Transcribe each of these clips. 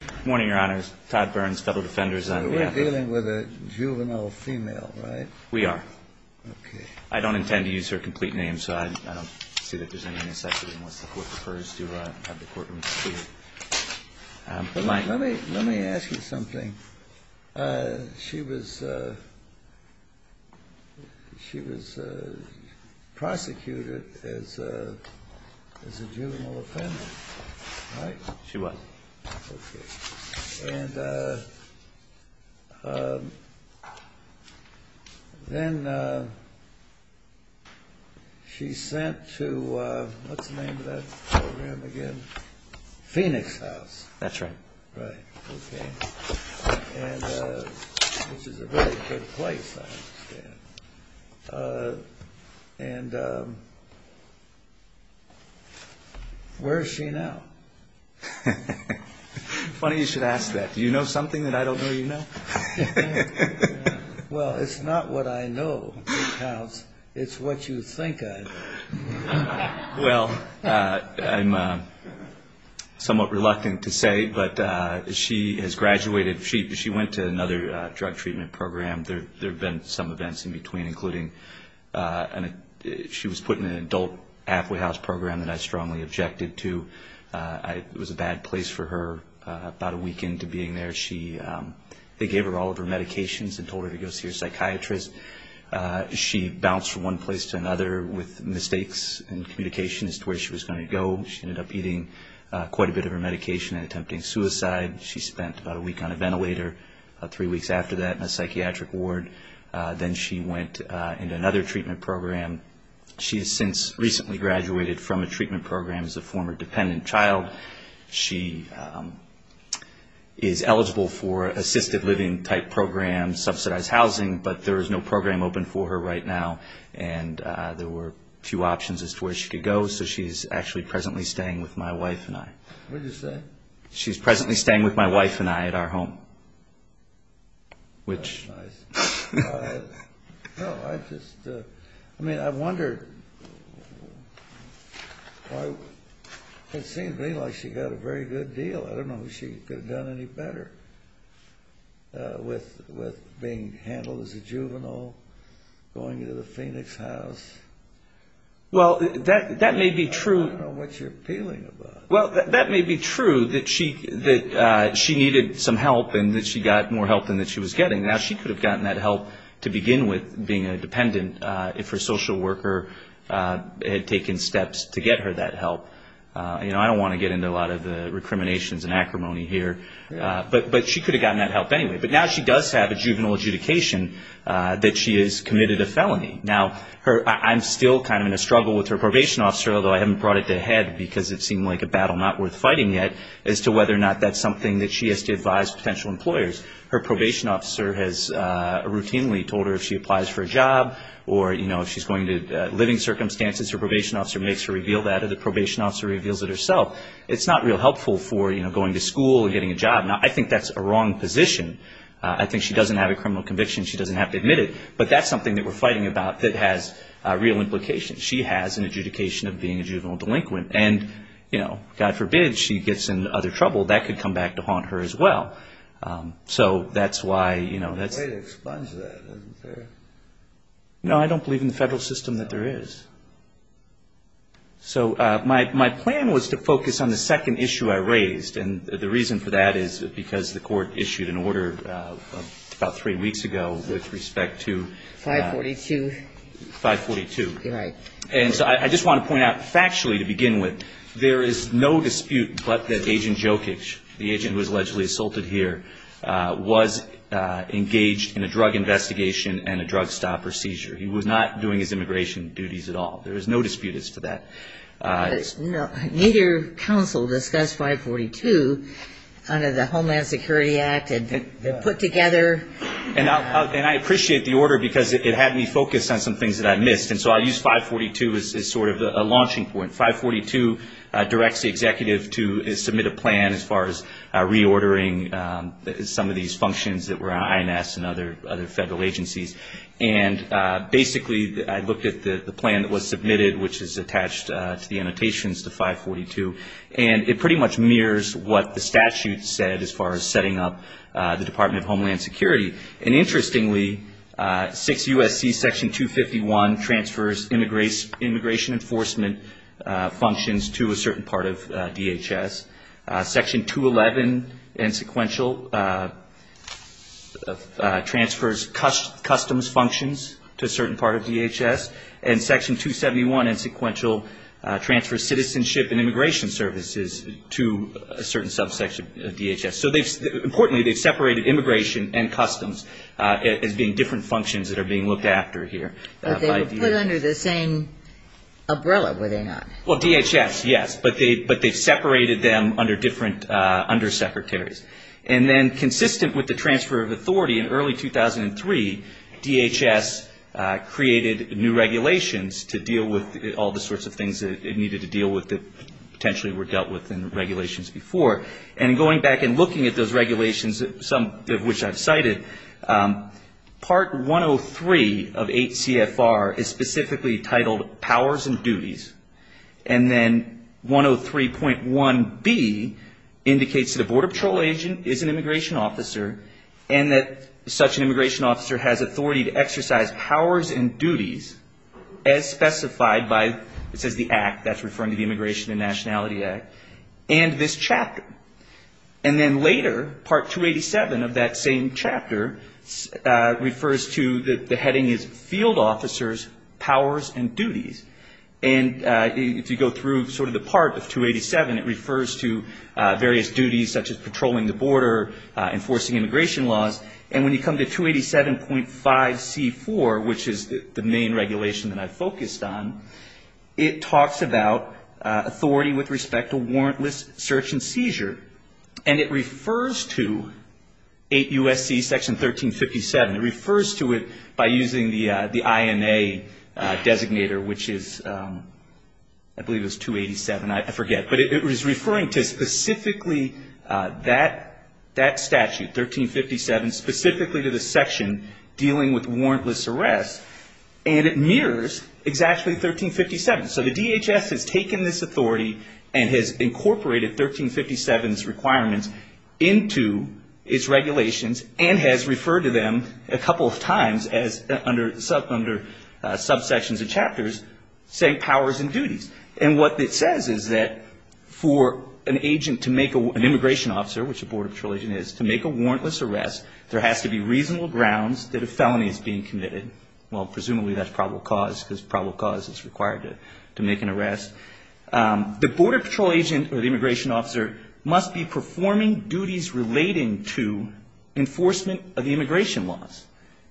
Good morning, Your Honors. Todd Burns, Federal Defenders on behalf of the We're dealing with a juvenile female, right? We are. Okay. I don't intend to use her complete name, so I don't see that there's any insecurity unless the court prefers to have the courtroom completed. Let me ask you something. She was prosecuted as a juvenile offender, right? She was. Okay. And then she's sent to, what's the name of that program again? Phoenix House. That's right. Right. Okay. And this is a very good place, I understand. And where is she now? Funny you should ask that. Do you know something that I don't know you know? Well, it's not what I know, Phoenix House. It's what you think I know. Well, I'm somewhat reluctant to say, but she has graduated. She went to another drug treatment program. There have been some events in between, including she was put in an adult halfway house program that I strongly objected to. It was a bad place for her. About a week into being there, they gave her all of her medications and told her to go see her psychiatrist. She bounced from one place to another with mistakes in communication as to where she was going to go. She ended up eating quite a bit of her medication and attempting suicide. She spent about a week on a ventilator, about three weeks after that in a psychiatric ward. Then she went into another treatment program. She has since recently graduated from a treatment program as a former dependent child. She is eligible for assisted living type programs, subsidized housing, but there is no program open for her right now. And there were few options as to where she could go, so she's actually presently staying with my wife and I. What did you say? She's presently staying with my wife and I at our home. That's nice. No, I just, I mean, I wondered why it seemed to me like she got a very good deal. I don't know if she could have done any better with being handled as a juvenile, going to the Phoenix house. Well, that may be true. I don't know what you're appealing about. Well, that may be true that she needed some help and that she got more help than she was getting. Now, she could have gotten that help to begin with being a dependent if her social worker had taken steps to get her that help. You know, I don't want to get into a lot of the recriminations and acrimony here, but she could have gotten that help anyway. But now she does have a juvenile adjudication that she has committed a felony. Now, I'm still kind of in a struggle with her probation officer, although I haven't brought it to head because it seemed like a battle not worth fighting yet, as to whether or not that's something that she has to advise potential employers. Her probation officer has routinely told her if she applies for a job or, you know, if she's going to living circumstances, her probation officer makes her reveal that or the probation officer reveals it herself. It's not real helpful for, you know, going to school and getting a job. Now, I think that's a wrong position. I think she doesn't have a criminal conviction. She doesn't have to admit it. But that's something that we're fighting about that has real implications. She has an adjudication of being a juvenile delinquent. And, you know, God forbid she gets in other trouble, that could come back to haunt her as well. So that's why, you know, that's the way to expunge that, isn't there? No, I don't believe in the Federal system that there is. So my plan was to focus on the second issue I raised. And the reason for that is because the Court issued an order about three weeks ago with respect to 542. And so I just want to point out factually to begin with, there is no dispute but that Agent Jokic, the agent who was allegedly assaulted here, was engaged in a drug investigation and a drug stop or seizure. He was not doing his immigration duties at all. There is no dispute as to that. Neither counsel discussed 542 under the Homeland Security Act. They're put together. And I appreciate the order because it had me focused on some things that I missed. And so I used 542 as sort of a launching point. 542 directs the executive to submit a plan as far as reordering some of these functions that were on INS and other federal agencies. And basically I looked at the plan that was submitted, which is attached to the annotations to 542, and it pretty much mirrors what the statute said as far as setting up the Department of Homeland Security. And interestingly, 6 U.S.C. Section 251 transfers immigration enforcement functions to a certain part of DHS. Section 211 and sequential transfers customs functions to a certain part of DHS. And Section 271 and sequential transfers citizenship and immigration services to a certain subsection of DHS. So importantly, they've separated immigration and customs as being different functions that are being looked after here. But they were put under the same umbrella, were they not? Well, DHS, yes. But they've separated them under different undersecretaries. And then consistent with the transfer of authority in early 2003, DHS created new regulations to deal with all the sorts of things it needed to deal with that potentially were dealt with in regulations before. And going back and looking at those regulations, some of which I've cited, Part 103 of 8 CFR is specifically titled Powers and Duties. And then 103.1B indicates that a Border Patrol agent is an immigration officer and that such an immigration officer has authority to exercise powers and duties as specified by, it says the Act, that's referring to the Immigration and Nationality Act. And this chapter. And then later, Part 287 of that same chapter refers to the heading is Field Officers, Powers and Duties. And if you go through sort of the part of 287, it refers to various duties such as patrolling the border, enforcing immigration laws. And when you come to 287.5C4, which is the main regulation that I focused on, it talks about authority with respect to warrantless search and seizure. And it refers to 8 U.S.C. Section 1357. It refers to it by using the INA designator, which is, I believe it was 287. I forget. But it was referring to specifically that statute, 1357, specifically to the section dealing with warrantless arrests. And it mirrors exactly 1357. So the DHS has taken this authority and has incorporated 1357's requirements into its regulations and has referred to them a couple of times as under subsections and chapters, saying powers and duties. And what it says is that for an agent to make an immigration officer, which a Border Patrol agent is, to make a warrantless arrest, there has to be reasonable grounds that a felony is being committed. Well, presumably that's probable cause, because probable cause is required to make an arrest. The Border Patrol agent or the immigration officer must be performing duties relating to enforcement of the immigration laws.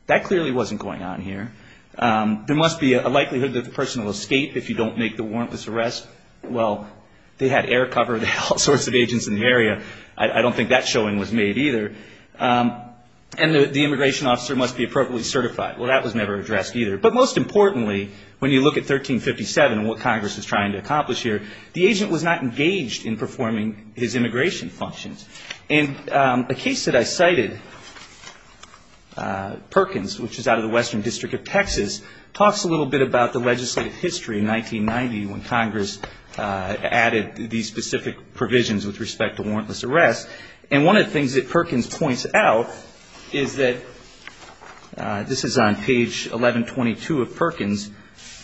That clearly wasn't going on here. There must be a likelihood that the person will escape if you don't make the warrantless arrest. Well, they had air cover of all sorts of agents in the area. I don't think that showing was made either. And the immigration officer must be appropriately certified. Well, that was never addressed either. But most importantly, when you look at 1357 and what Congress is trying to accomplish here, the agent was not engaged in performing his immigration functions. And a case that I cited, Perkins, which is out of the Western District of Texas, talks a little bit about the legislative history in 1990 when Congress added these specific provisions with respect to warrantless arrest. And one of the things that Perkins points out is that this is on page 1122 of Perkins,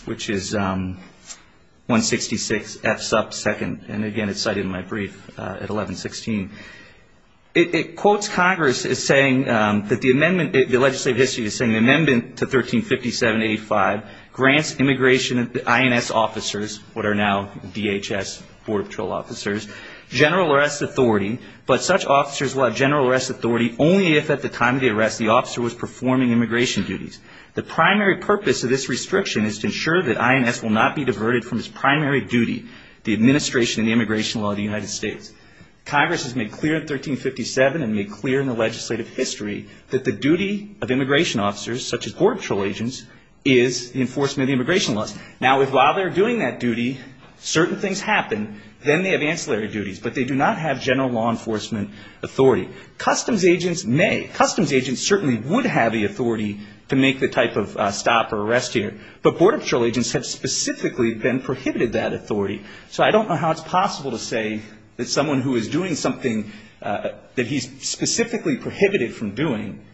which is 166 F. Supp. 2nd. And, again, it's cited in my brief at 1116. It quotes Congress as saying that the amendment, the legislative history is saying the amendment to 1357-85 grants immigration INS officers, what are now DHS border patrol officers, general arrest authority, but such officers will have general arrest authority only if at the time of the arrest the officer was performing immigration duties. The primary purpose of this restriction is to ensure that INS will not be diverted from its primary duty, the administration of the immigration law of the United States. Congress has made clear in 1357 and made clear in the legislative history that the duty of immigration officers, such as border patrol agents, is the enforcement of the immigration laws. Now, while they're doing that duty, certain things happen. Then they have ancillary duties, but they do not have general law enforcement authority. Customs agents may. Customs agents certainly would have the authority to make the type of stop or arrest here. But border patrol agents have specifically been prohibited that authority. So I don't know how it's possible to say that someone who is doing something that he's specifically prohibited from doing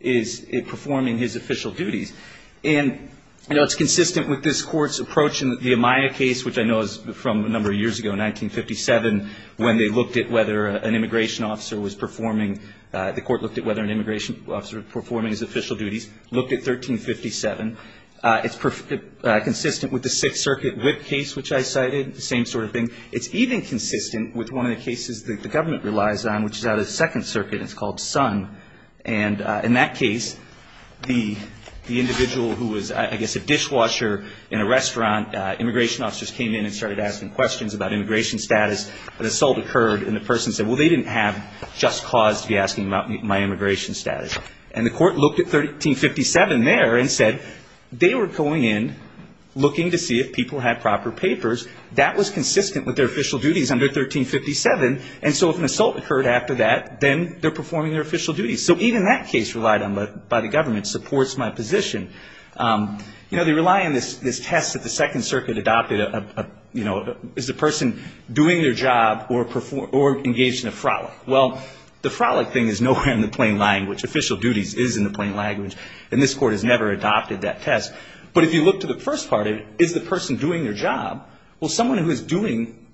is performing his official duties. And, you know, it's consistent with this Court's approach in the Amaya case, which I know is from a number of years ago, 1957, when they looked at whether an immigration officer was performing, the Court looked at whether an immigration officer was performing his official duties, looked at 1357. It's consistent with the Sixth Circuit Whip case, which I cited, the same sort of thing. It's even consistent with one of the cases that the government relies on, which is out of the Second Circuit, and it's called Sun. And in that case, the individual who was, I guess, a dishwasher in a restaurant, immigration officers came in and started asking questions about immigration status. An assault occurred, and the person said, well, they didn't have just cause to be asking about my immigration status. And the Court looked at 1357 there and said they were going in looking to see if people had proper papers. That was consistent with their official duties under 1357, and so if an assault occurred after that, then they're performing their official duties. So even that case relied on by the government supports my position. You know, they rely on this test that the Second Circuit adopted, you know, is the person doing their job or engaged in a frolic. Well, the frolic thing is nowhere in the plain language. Official duties is in the plain language, and this Court has never adopted that test. But if you look to the first part of it, is the person doing their job? Well, someone who is doing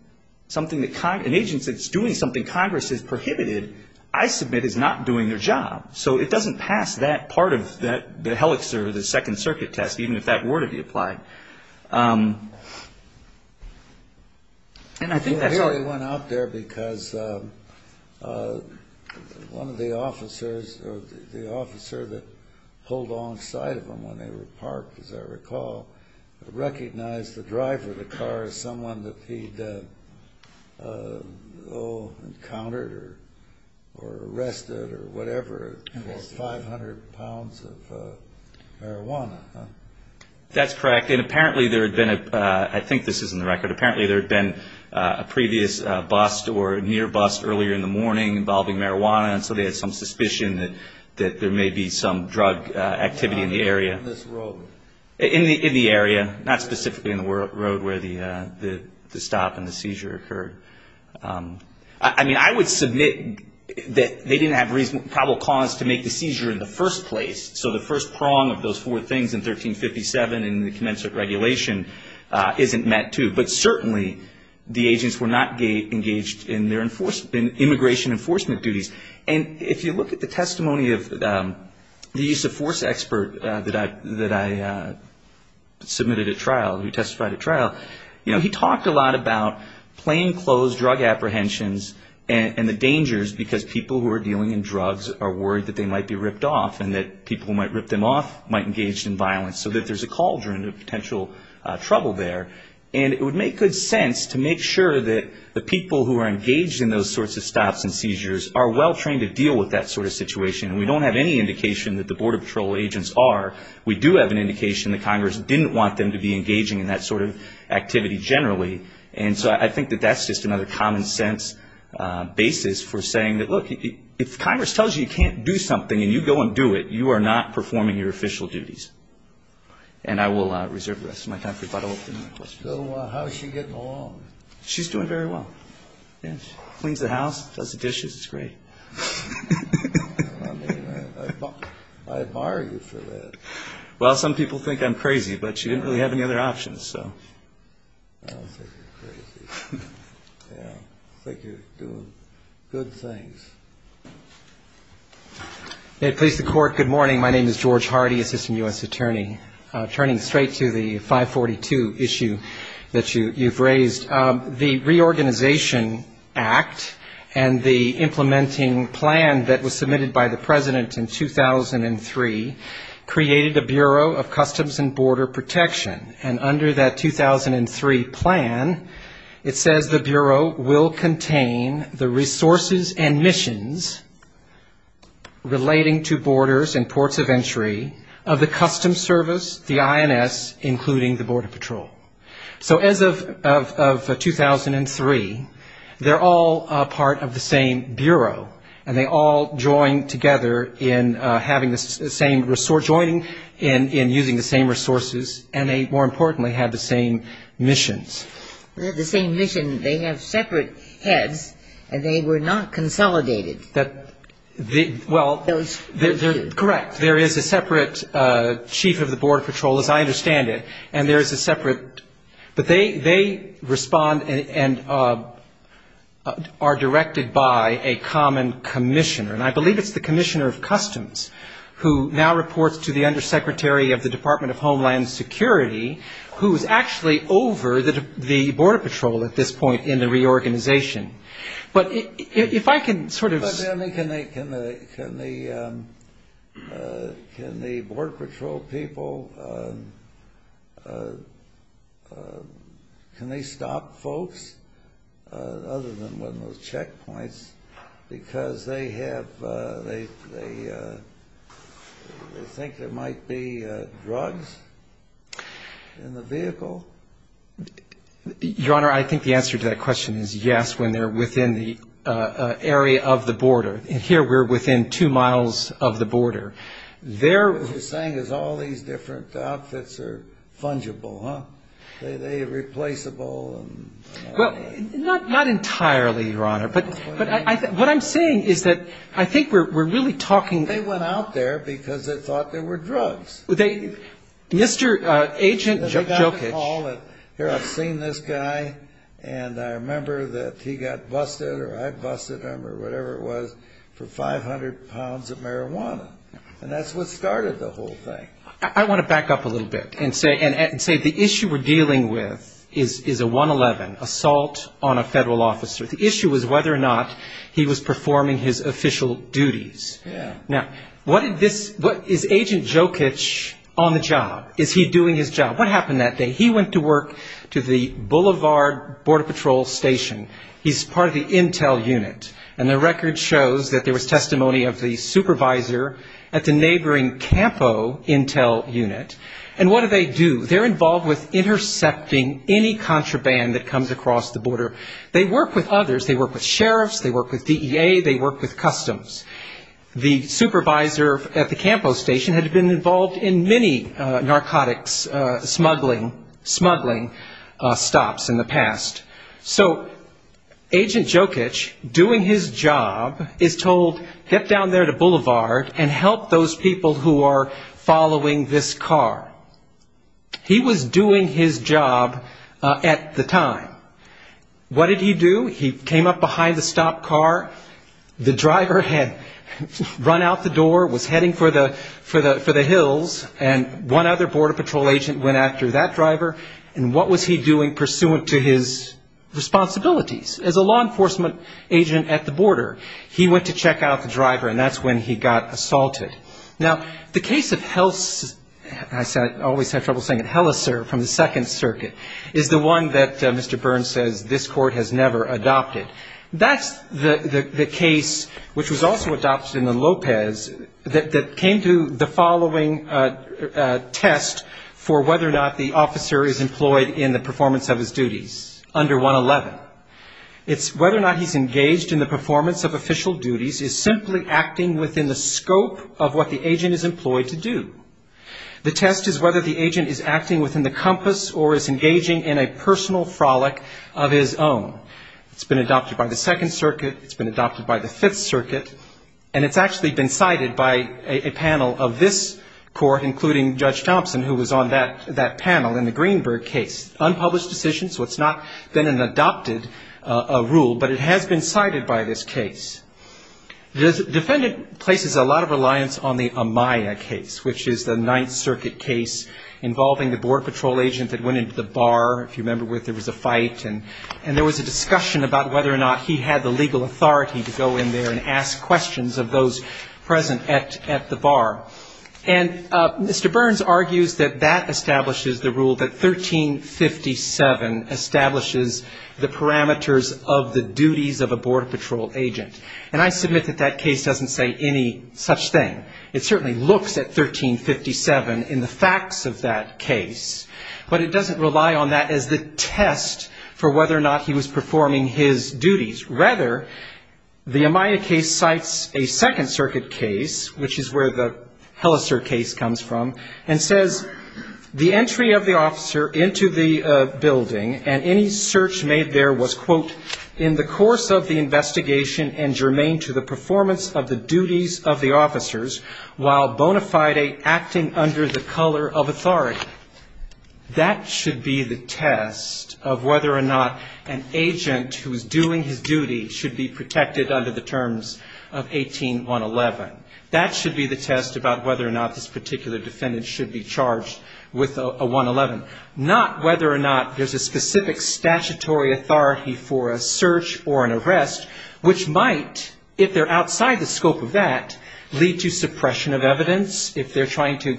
something, an agent that's doing something Congress has prohibited, I submit, is not doing their job. So it doesn't pass that part of the helix or the Second Circuit test, even if that were to be applied. And I think that's... He only went out there because one of the officers, or the officer that pulled alongside of him when they were parked, as I recall, recognized the driver of the car as someone that he'd, oh, encountered or arrested or whatever for 500 pounds of marijuana. That's correct, and apparently there had been a, I think this is in the record, apparently there had been a previous bust or near bust earlier in the morning involving marijuana, and so they had some suspicion that there may be some drug activity in the area. In this road. In the area, not specifically in the road where the stop and the seizure occurred. It's in 1357 and the commensurate regulation isn't met, too. But certainly the agents were not engaged in their immigration enforcement duties. And if you look at the testimony of the use of force expert that I submitted at trial, who testified at trial, you know, he talked a lot about plainclothes drug apprehensions and the dangers because people who are dealing in drugs are worried that they may be subject to violence, so that there's a cauldron of potential trouble there. And it would make good sense to make sure that the people who are engaged in those sorts of stops and seizures are well trained to deal with that sort of situation, and we don't have any indication that the Border Patrol agents are. We do have an indication that Congress didn't want them to be engaging in that sort of activity generally. And so I think that that's just another common sense basis for saying that, look, if Congress tells you you can't do something and you go and do it, you are not performing your official duties. And I will reserve the rest of my time for questions. So how is she getting along? She's doing very well. Cleans the house, does the dishes. It's great. I mean, I admire you for that. Well, some people think I'm crazy, but you didn't really have any other options, so. I don't think you're crazy. I think you're doing good things. George Hardy, Assistant U.S. Attorney. Turning straight to the 542 issue that you've raised, the Reorganization Act and the implementing plan that was submitted by the Bureau of Customs and Border Protection, and under that 2003 plan, it says the Bureau will contain the resources and missions relating to borders and ports of entry of the Customs Service, the INS, including the Border Patrol. So as of 2003, they're all part of the same Bureau, and they all join together in having the same resource, joining in using the same resources, and they, more importantly, have the same missions. They have the same mission. They have separate heads, and they were not consolidated. Well, correct. There is a separate chief of the Border Patrol, as I understand it, and there is a separate. But they respond and are directed by a common commissioner. And I believe it's the Commissioner of Customs, who now reports to the Undersecretary of the Department of Homeland Security, who is actually over the Border Patrol at this point in the reorganization. But if I can sort of... Can the Border Patrol people, can they stop folks other than when there's checkpoints, because they have a they think there might be drugs in the vehicle? Your Honor, I think the answer to that question is yes, when they're within the area of the border. And here we're within two miles of the border. What you're saying is all these different outfits are fungible, huh? Are they replaceable? Well, not entirely, Your Honor. But what I'm saying is that I think we're really talking... They went out there because they thought there were drugs. Mr. Agent Jokic... Here, I've seen this guy, and I remember that he got busted or I busted him or whatever it was for 500 pounds of marijuana. And that's what started the whole thing. I want to back up a little bit and say the issue we're dealing with is a 111, assault on a federal officer. The issue was whether or not he was performing his official duties. Now, what did this... Is Agent Jokic on the job? Is he doing his job? What happened that day? He went to work to the Boulevard Border Patrol Station. He's part of the intel unit. And the record shows that there was testimony of the supervisor at the neighboring Campo intel unit. And what do they do? They're involved with intercepting any contraband that comes across the border. They work with others. They work with sheriffs, they work with DEA, they work with Customs. The supervisor at the Campo station had been involved in many narcotics smuggling stops in the past. So Agent Jokic, doing his job, is told, get down there to Boulevard and help those people who are on the border. Who are following this car. He was doing his job at the time. What did he do? He came up behind the stopped car. The driver had run out the door, was heading for the hills, and one other Border Patrol agent went after that driver. And what was he doing pursuant to his responsibilities as a law enforcement agent at the border? He went to check out the driver, and that's when he got assaulted. Now, the case of Helleser from the Second Circuit is the one that Mr. Burns says this court has never adopted. That's the case which was also adopted in the Lopez that came to the following test for whether or not the officer is employed in the performance of his duties under 111. It's whether or not he's engaged in the performance of his duties within the scope of what the agent is employed to do. The test is whether the agent is acting within the compass or is engaging in a personal frolic of his own. It's been adopted by the Second Circuit. It's been adopted by the Fifth Circuit. And it's actually been cited by a panel of this court, including Judge Thompson, who was on that panel in the Greenberg case. Unpublished decision, so it's not been an adopted rule, but it has been cited by this case. The defendant places a lot of reliance on the Amaya case, which is the Ninth Circuit case involving the border patrol agent that went into the bar, if you remember, where there was a fight, and there was a discussion about whether or not he had the legal authority to go in there and ask questions of those present at the bar. And Mr. Burns argues that that establishes the rule that 1357 establishes the parameters of the duties of a border patrol agent. And I submit that that case doesn't say any such thing. It certainly looks at 1357 in the facts of that case, but it doesn't rely on that as the test for whether or not he was performing his duties. Rather, the Amaya case cites a Second Circuit case, which is where the Hellaser case comes from, and says, the entry of the officer into the building and any search made there was, quote, in the course of the investigation and germane to the performance of the duties of the officers while bona fide acting under the color of authority. That should be the test of whether or not an agent who is doing his duty should be protected under the terms of 1811. That should be the test about whether or not this particular defendant should be charged with a 111, not whether or not there's a specific statutory authority for a search or an arrest, which might, if they're outside the scope of that, lead to suppression of evidence, if they're trying to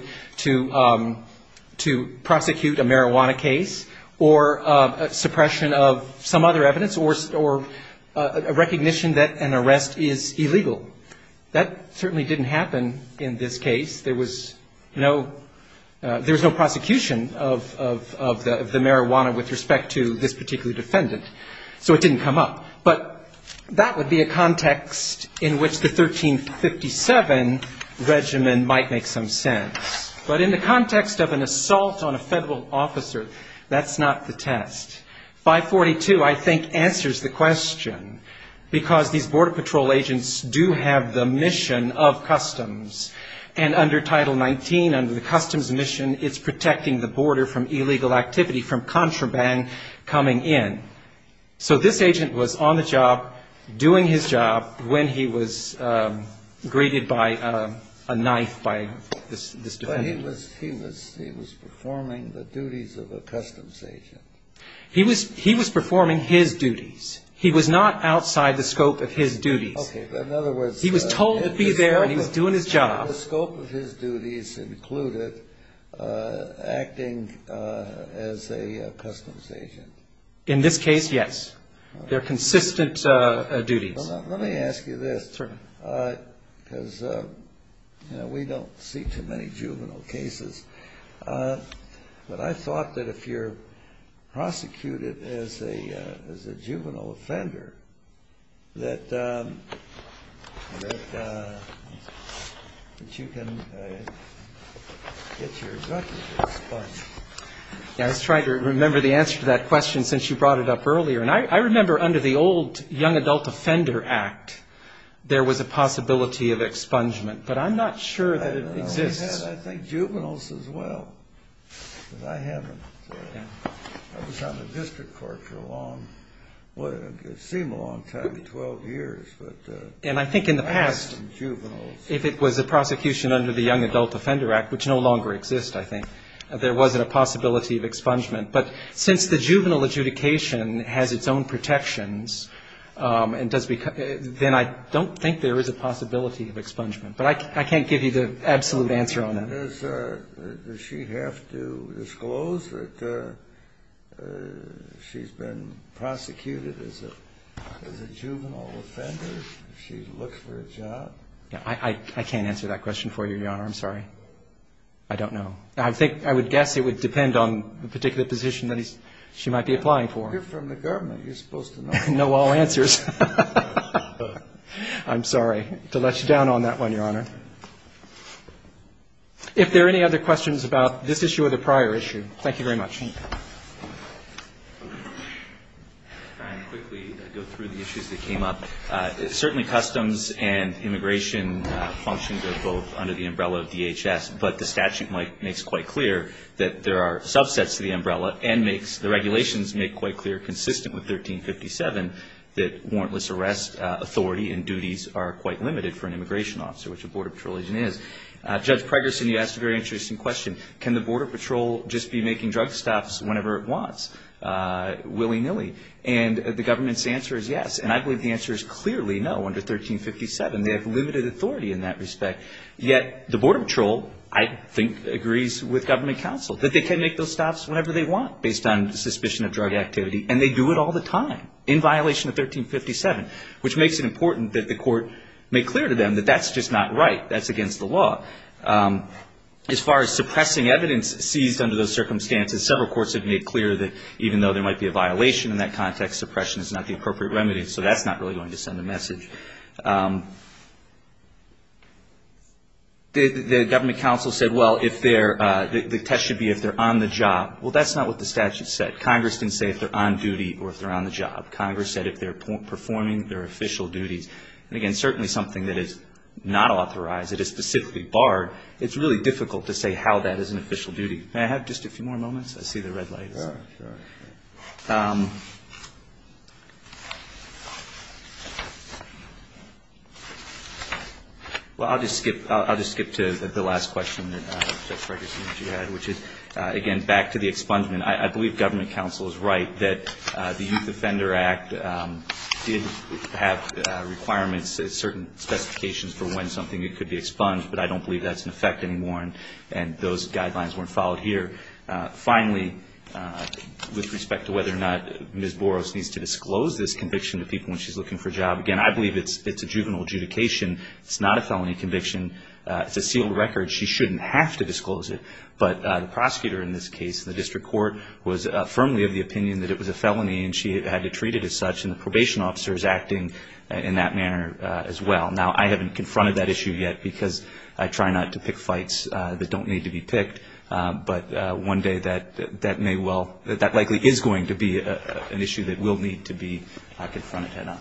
prosecute a marijuana case, or suppression of some other evidence, or recognition that an arrest is illegal. That certainly didn't happen in this case. There was no prosecution of the marijuana with respect to this particular defendant, so it didn't come up. But that would be a context in which the 1357 regimen might make some sense. But in the context of an assault on a Federal officer, that's not the test. 542, I think, answers the question, because these Border Patrol agents do have the mission of customs, and under Title 19, under the customs mission, it's protecting the border from illegal activity, from contraband coming in. So this agent was on the job, doing his job, when he was greeted by a knife by this defendant. He was performing the duties of a customs agent. He was performing his duties. He was not outside the scope of his duties. He was told to be there, and he was doing his job. The scope of his duties included acting as a customs agent. In this case, yes. They're consistent duties. Well, let me ask you this, because, you know, we don't see too many juvenile cases. But I thought that if you're prosecuted as a juvenile offender, that you can get your judgment. I was trying to remember the answer to that question, since you brought it up earlier. There was a possibility of expungement, but I'm not sure that it exists. And I think in the past, if it was a prosecution under the Young Adult Offender Act, which no longer exists, I think, there wasn't a possibility of expungement. But since the juvenile adjudication has its own protections, then I don't think there is a possibility of expungement. But I can't give you the absolute answer on that. I can't answer that question for you, Your Honor. I'm sorry. I don't know. I'm sorry. I don't know. I'm sorry to let you down on that one, Your Honor. If there are any other questions about this issue or the prior issue, thank you very much. Certainly customs and immigration functions are both under the umbrella of DHS, but the statute makes quite clear that there are subsets to the umbrella. And the regulations make quite clear, consistent with 1357, that warrantless arrest authority and duties are quite limited for an immigration officer, which a border patrol agent is. Judge Pregerson, you asked a very interesting question. Can the border patrol just be making drug stops whenever it wants, willy-nilly? And the government's answer is yes. And I believe the answer is clearly no under 1357. They have limited authority in that respect. Yet the border patrol, I think, agrees with government counsel that they can make those stops whenever they want, based on suspicion of drug activity. And they do it all the time, in violation of 1357, which makes it important that the court make clear to them that that's just not right. That's against the law. As far as suppressing evidence seized under those circumstances, several courts have made clear that even though there might be a violation in that context, suppression is not the appropriate remedy. The government counsel said, well, the test should be if they're on the job. Well, that's not what the statute said. Congress didn't say if they're on duty or if they're on the job. Congress said if they're performing their official duties. And again, certainly something that is not authorized, that is specifically barred, it's really difficult to say how that is an official duty. May I have just a few more moments? I see the red lights. I'll just skip to the last question, which is, again, back to the expungement. I believe government counsel is right that the Youth Offender Act did have requirements, certain specifications for when something could be expunged, but I don't believe that's in effect anymore and those guidelines weren't followed here. Finally, with respect to whether or not Ms. Boros needs to disclose this conviction to people when she's looking for a job, again, I believe it's a juvenile adjudication. It's not a felony conviction. It's a sealed record. She shouldn't have to disclose it. But the prosecutor in this case, the district court, was firmly of the opinion that it was a felony and she had to treat it as such, and the probation officer is acting in that manner as well. Now, I haven't confronted that issue yet because I try not to pick fights that don't need to be picked, but one day that may well, that likely is going to be an issue that will need to be confronted head-on.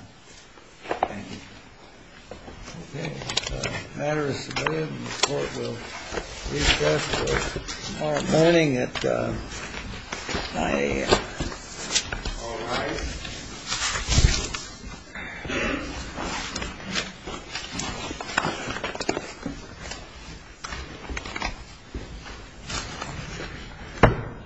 Okay. The matter is submitted and the court will recess until tomorrow morning at 9 a.m. All right.